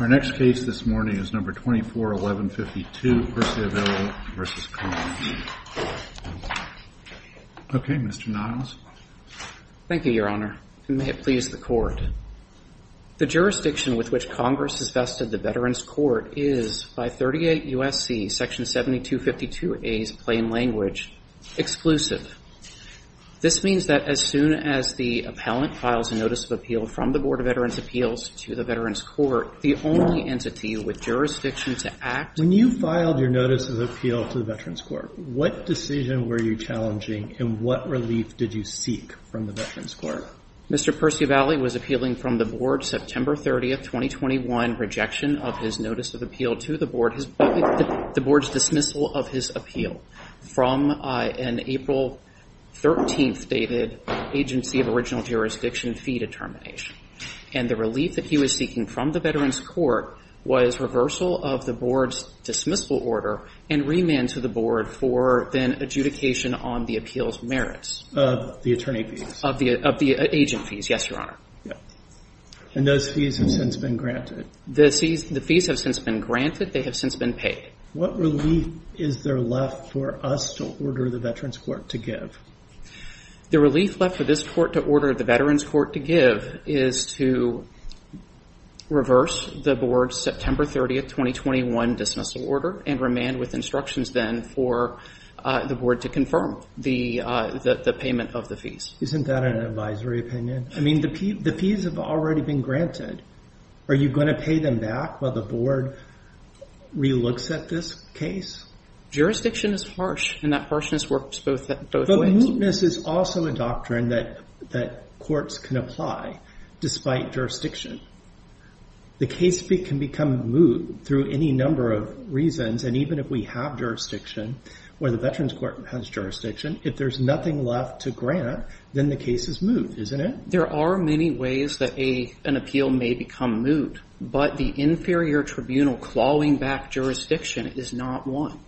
Okay, Mr. Niles. Thank you, Your Honor. May it please the Court. The jurisdiction with which Congress has vested the Veterans Court is, by 38 U.S.C. section 7252a's plain language, exclusive. This means that as soon as the appellant files a notice of appeal from the Veterans Appeals to the Veterans Court, the only entity with jurisdiction to act... Robert Niles When you filed your notice of appeal to the Veterans Court, what decision were you challenging, and what relief did you seek from the Veterans Court? Michael Niles Mr. Perciavalle was appealing from the board September 30, 2021, rejection of his notice of appeal to the board, the board's dismissal of his appeal from an April 13th dated Agency of Original Jurisdiction fee determination. And the relief that he was seeking from the Veterans Court was reversal of the board's dismissal order and remand to the board for then adjudication on the appeal's merits. Robert Niles Of the attorney fees. Michael Niles Of the agent fees, yes, Your Honor. Robert Niles And those fees have since been granted. Michael Niles The fees have since been granted. They have since been paid. Robert Niles What relief is there left for us to order the Veterans Court to give? Michael Niles The relief left for this court to order the Veterans Court to give is to reverse the board's September 30, 2021, dismissal order and remand with instructions then for the board to confirm the payment of the fees. Robert Niles Isn't that an advisory opinion? I mean, the fees have already been granted. Michael Niles Are you going to pay them back while the board re-looks at this case? Robert Niles Jurisdiction is harsh and that harshness works both ways. Michael Niles But mootness is also a doctrine that courts can apply, despite jurisdiction. The case can become moot through any number of reasons. And even if we have jurisdiction, where the Veterans Court has jurisdiction, if there's nothing left to grant, then the case is moot, isn't it? There are many ways that an appeal may become moot, but the inferior tribunal clawing back jurisdiction is not one.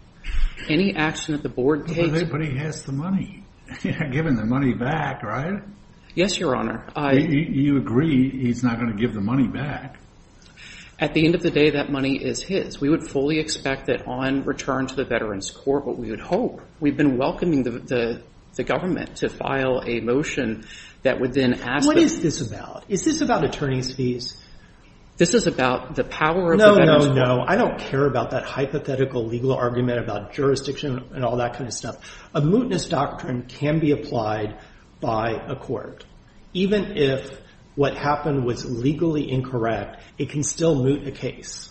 Any action that the board takes... Robert Niles But he has the money. You're giving the money back, right? Michael Niles Yes, Your Honor. Robert Niles You agree he's not going to give the money back. Michael Niles At the end of the day, that money is his. We would fully expect that on return to the Veterans Court, what we would hope, we've been welcoming the government to file a motion that would then ask... Robert Niles What is this about? Is this about attorney's fees? Michael Niles This is about the power of the Veterans Court. Robert Niles No, no, no. I don't care about that hypothetical legal argument about jurisdiction and all that kind of stuff. A mootness doctrine can be applied by a court. Even if what happened was legally incorrect, it can still moot a case.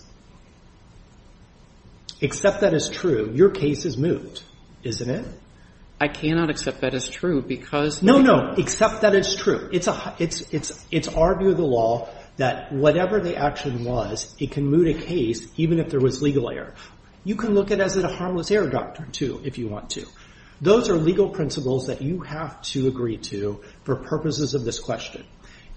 Accept that as true. Your case is moot, isn't it? Michael Niles I cannot accept that as true because... Robert Niles No, no. Accept that as true. It's our view of the law that whatever the action was, it can moot a case even if there was legal error. You can look at it as a harmless error doctrine, too, if you want to. Those are legal principles that you have to agree to for purposes of this question.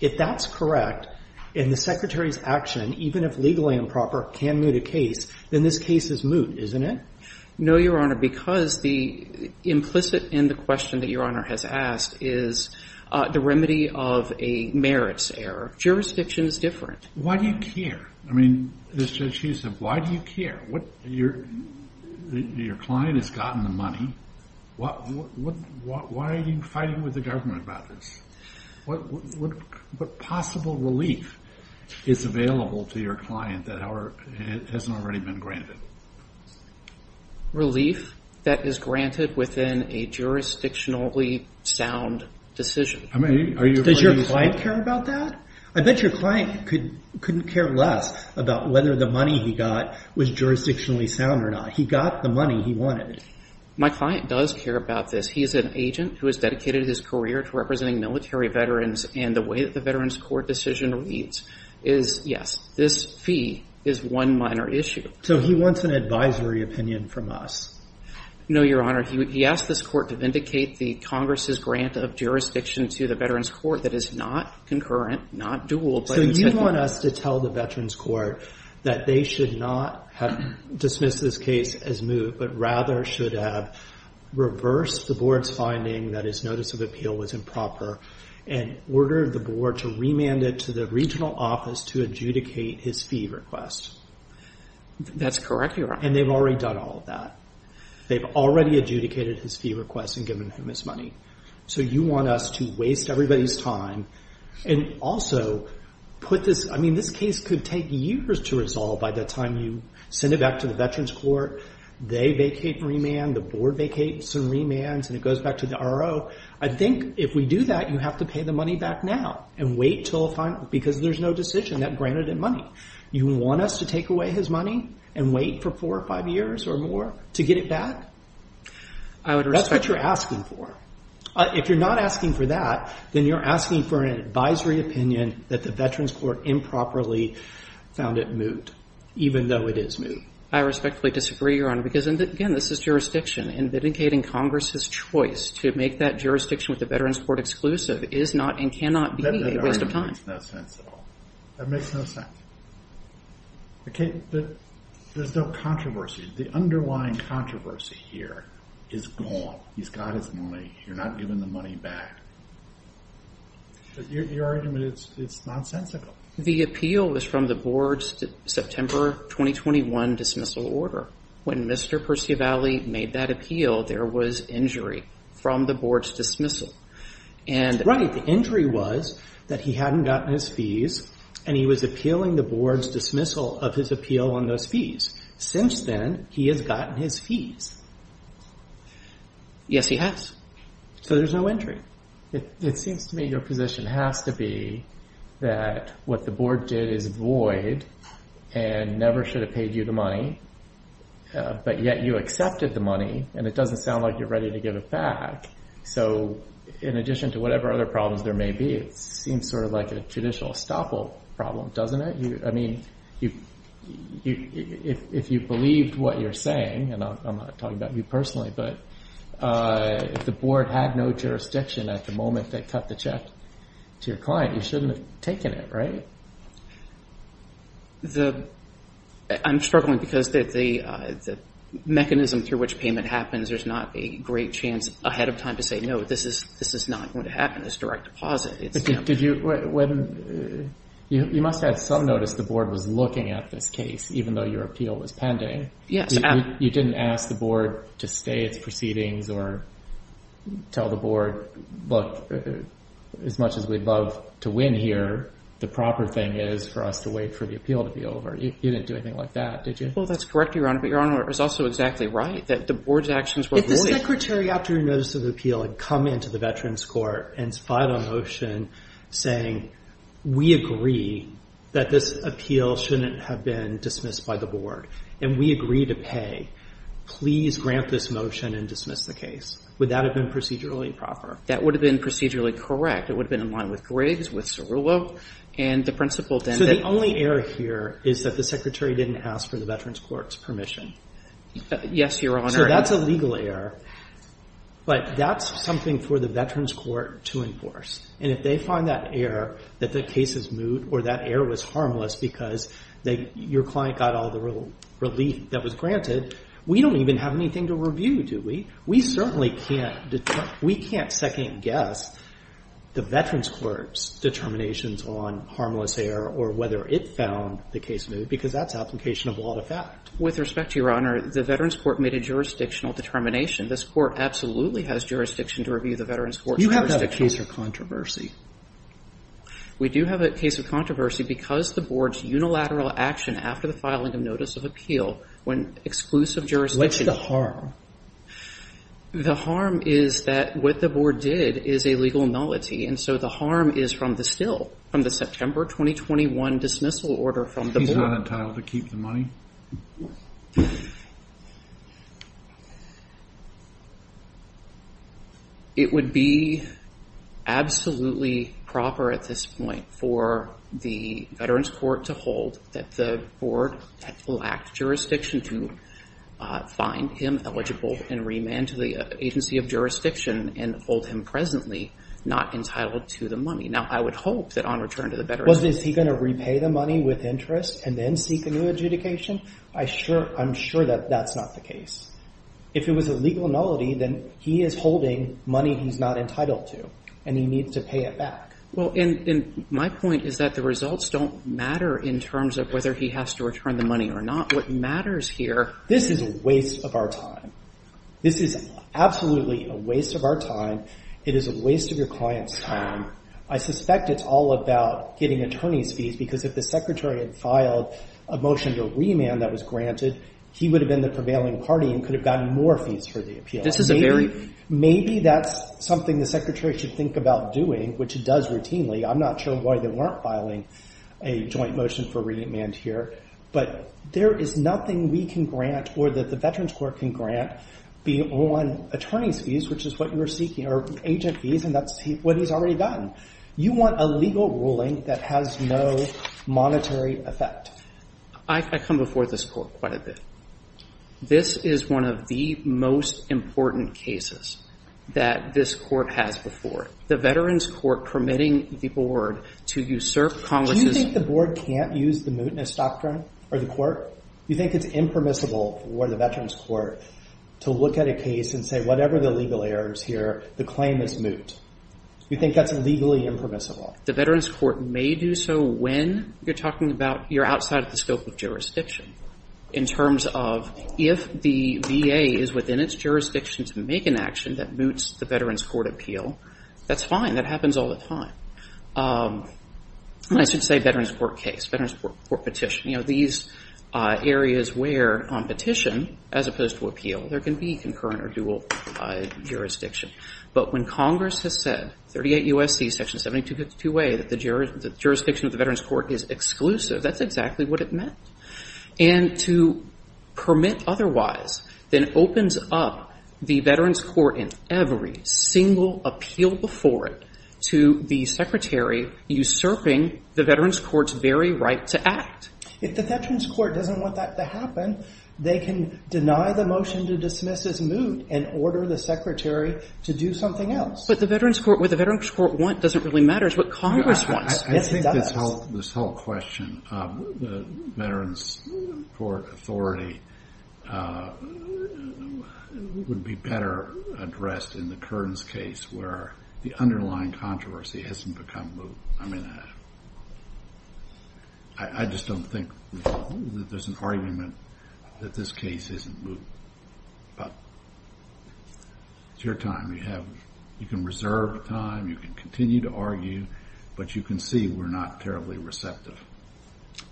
If that's correct and the Secretary's action, even if legally improper, can moot a case, then this case is moot, isn't it? Michael Niles No, Your Honor, because the implicit in the question that Your Honor has asked is the remedy of a merits error. Jurisdiction is different. Robert Niles Why do you care? I mean, as Judge Huseb, why do you care? Your client has gotten the money. Why are you fighting with the government about this? What possible relief is available to your client that hasn't already been granted? Michael Niles Relief that is granted within a jurisdictionally sound decision. Robert Niles Does your client care about that? I bet your client couldn't care less about whether the money he got was jurisdictionally sound or not. He got the money he wanted. Michael Niles My client does care about this. He is an agent who has dedicated his career to representing military veterans, and the way that the Veterans Court decision reads is, yes, this fee is one minor issue. Robert Niles So he wants an advisory opinion from us. Michael Niles No, Your Honor. He asked this court to vindicate the Congress's grant of jurisdiction to the Veterans Court that is not concurrent, not dual. Robert Niles So you want us to tell the Veterans Court that they should not have dismissed this case as moot, but rather should have reversed the board's finding that his notice of appeal was improper and ordered the board to remand it to the regional office to adjudicate his fee request. Michael Niles That's correct, Your Honor. Robert Niles And they've already done all of that. They've already adjudicated his fee request and given him his money. So you want us to waste everybody's time and also put this, I mean this case could take years to resolve by the time you send it back to the Veterans Court. They vacate and remand, the board vacates and remands, and it goes back to the RO. I think if we do that, you have to pay the money back now and wait until the final, because there's no decision that was granted in money. You want us to take away his money and wait for four or five years or more to get it back? Michael Niles I would respect that. Robert Niles That's what you're asking for. If you're not asking for that, then you're asking for an advisory opinion that the Veterans Court improperly found it moot, even though it is moot. Michael Niles I respectfully disagree, Your Honor, because, again, this is jurisdiction, and vindicating Congress's choice to make that jurisdiction with the Veterans Court exclusive is not and cannot be a waste of time. Robert Niles That makes no sense. There's no controversy. The underlying controversy here is gone. He's got his money. You're not giving the money back. Your argument is nonsensical. Michael Niles The appeal was from the board's September 2021 dismissal order. When Mr. Percivali made that appeal, there was injury from the board's dismissal. The injury was that he hadn't gotten his fees, and he was appealing the board's dismissal of his appeal on those fees. Since then, he has gotten his fees. Robert Niles Yes, he has. Michael Niles So there's no injury. Robert Niles It seems to me your position has to be that what the board did is void and never should have paid you the money, but yet you accepted the money, and it doesn't sound like you're ready to give it back. So in addition to whatever other problems there may be, it seems sort of like a judicial estoppel problem, doesn't it? I mean, if you believed what you're saying, and I'm not talking about you personally, but if the board had no jurisdiction at the moment they cut the check to your client, you shouldn't have taken it, right? Michael Niles I'm struggling because the mechanism through which payment happens, there's not a great chance ahead of time to say, no, this is not going to happen. It's direct deposit. Robert Niles You must have had some notice the board was looking at this case, even though your appeal was pending. Michael Niles Yes. Robert Niles You didn't ask the board to stay its proceedings or tell the board, as much as we'd love to win here, the proper thing is for us to wait for the appeal to be over. You didn't do anything like that, did you? Michael Niles Well, that's correct, Your Honor, but Your Honor is also exactly right, that the board's actions were void. Michael Niles If the secretary, after notice of appeal, had come into the Veterans Court and filed a motion saying, we agree that this appeal shouldn't have been dismissed by the board, and we agree to pay, please grant this motion and dismiss the case, would that have been procedurally proper? Michael Niles That would have been procedurally correct. It would have been in line with Griggs, with Cerullo, and the principle then that Robert Niles So the only error here is that the secretary didn't ask for the Veterans Court's permission. Michael Niles Yes, Your Honor. Robert Niles So that's a legal error, but that's something for the Veterans Court to enforce, and if they find that error, that the case is moot or that error was harmless because your client got all the relief that was granted, we don't even have anything to review, do we? We certainly can't second-guess the Veterans Court's determinations on harmless error or whether it found the case moot, because that's application of law to fact. Michael Niles With respect to Your Honor, the Veterans Court made a jurisdictional determination. This Court absolutely has jurisdiction to review the Veterans Court's jurisdictional Roberts You have to have a case of controversy. Michael Niles We do have a case of controversy because the board's unilateral action after the filing of notice of appeal when exclusive jurisdiction Robert Niles What's the harm? Michael Niles The harm is that what the board did is a legal nullity, and so the harm is from the still, from the September 2021 dismissal order from the board. Robert Niles He's not entitled to keep the money? Michael Niles It would be absolutely proper at this point for the Veterans Court to hold that the board lacked jurisdiction to find him eligible and remand to the agency of jurisdiction and hold him presently not entitled to the money. Now, I would hope that on return to the Veterans Court Robert Niles Is he going to repay the money with interest and then seek a new adjudication? I'm sure that that's not the case. If it was a legal nullity, then he is holding money he's not entitled to, and he needs to pay it back. Michael Niles Well, and my point is that the results don't matter in terms of whether he has to return the money or not. What matters here is Robert Niles This is a waste of our time. This is absolutely a waste of our time. It is a waste of your client's time. I suspect it's all about getting attorney's fees because if the secretary had filed a motion to remand that was granted, he would have been the prevailing party and could have gotten more fees for the appeal. Michael Niles This is a very that's something the secretary should think about doing, which he does routinely. I'm not sure why they weren't filing a joint motion for remand here, but there is nothing we can grant or that the Veterans Court can grant beyond attorney's fees, which is what you're seeking, or agent fees, and that's what he's already gotten. You want a legal ruling that has no monetary effect. I come before this court quite a bit. This is one of the most important cases that this court has before. The Veterans Court permitting the board to usurp Congress' Robert Niles Do you think the board can't use the mootness doctrine or the court? Do you think it's impermissible for the Veterans Court to look at a case and say whatever the legal error is here, the claim is moot? Do you think that's legally impermissible? Michael Niles The Veterans Court may do so when you're talking about you're outside of the scope of jurisdiction in terms of if the VA is within its jurisdiction to make an action that moots the Veterans Court appeal, that's fine. That happens all the time. I should say Veterans Court case, Veterans Court petition. These areas where on petition as opposed to appeal, there can be concurrent or dual jurisdiction, but when Congress has said 38 U.S.C. section 7252A that the jurisdiction of the Veterans Court is exclusive, that's exactly what it meant. And to permit otherwise then opens up the Veterans Court in every single appeal before it to the secretary usurping the Veterans Court's very right to act. Robert Niles If the Veterans Court doesn't want that to happen, they can deny the motion to dismiss as moot and order the secretary to do something else. Katherian Roe But what the Veterans Court want doesn't really matter. It's what Congress wants. Robert Niles I think this whole question of Veterans Court authority would be better addressed in the Kearns case where the underlying controversy hasn't become moot. I mean, I just don't think there's an argument that this case isn't moot. But it's your time. You can reserve time. You can continue to argue. But you can see we're not terribly receptive.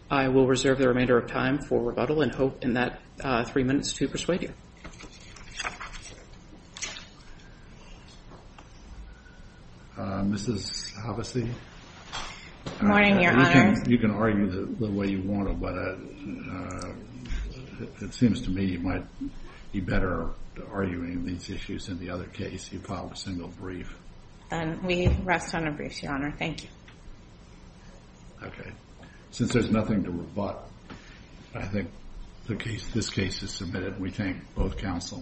Katherian Roe I will reserve the remainder of time for rebuttal and hope in that three minutes to persuade you. Robert Niles Mrs. Havasi? Katherian Roe Morning, Your Honor. Robert Niles You can argue the way you want to, but it seems to me you might be better arguing these issues in the other case. You filed a single brief. Katherian Roe We rest on a brief, Your Honor. Thank you. Robert Niles Okay. Since there's nothing to rebut, I think this case is submitted. We thank both counsel.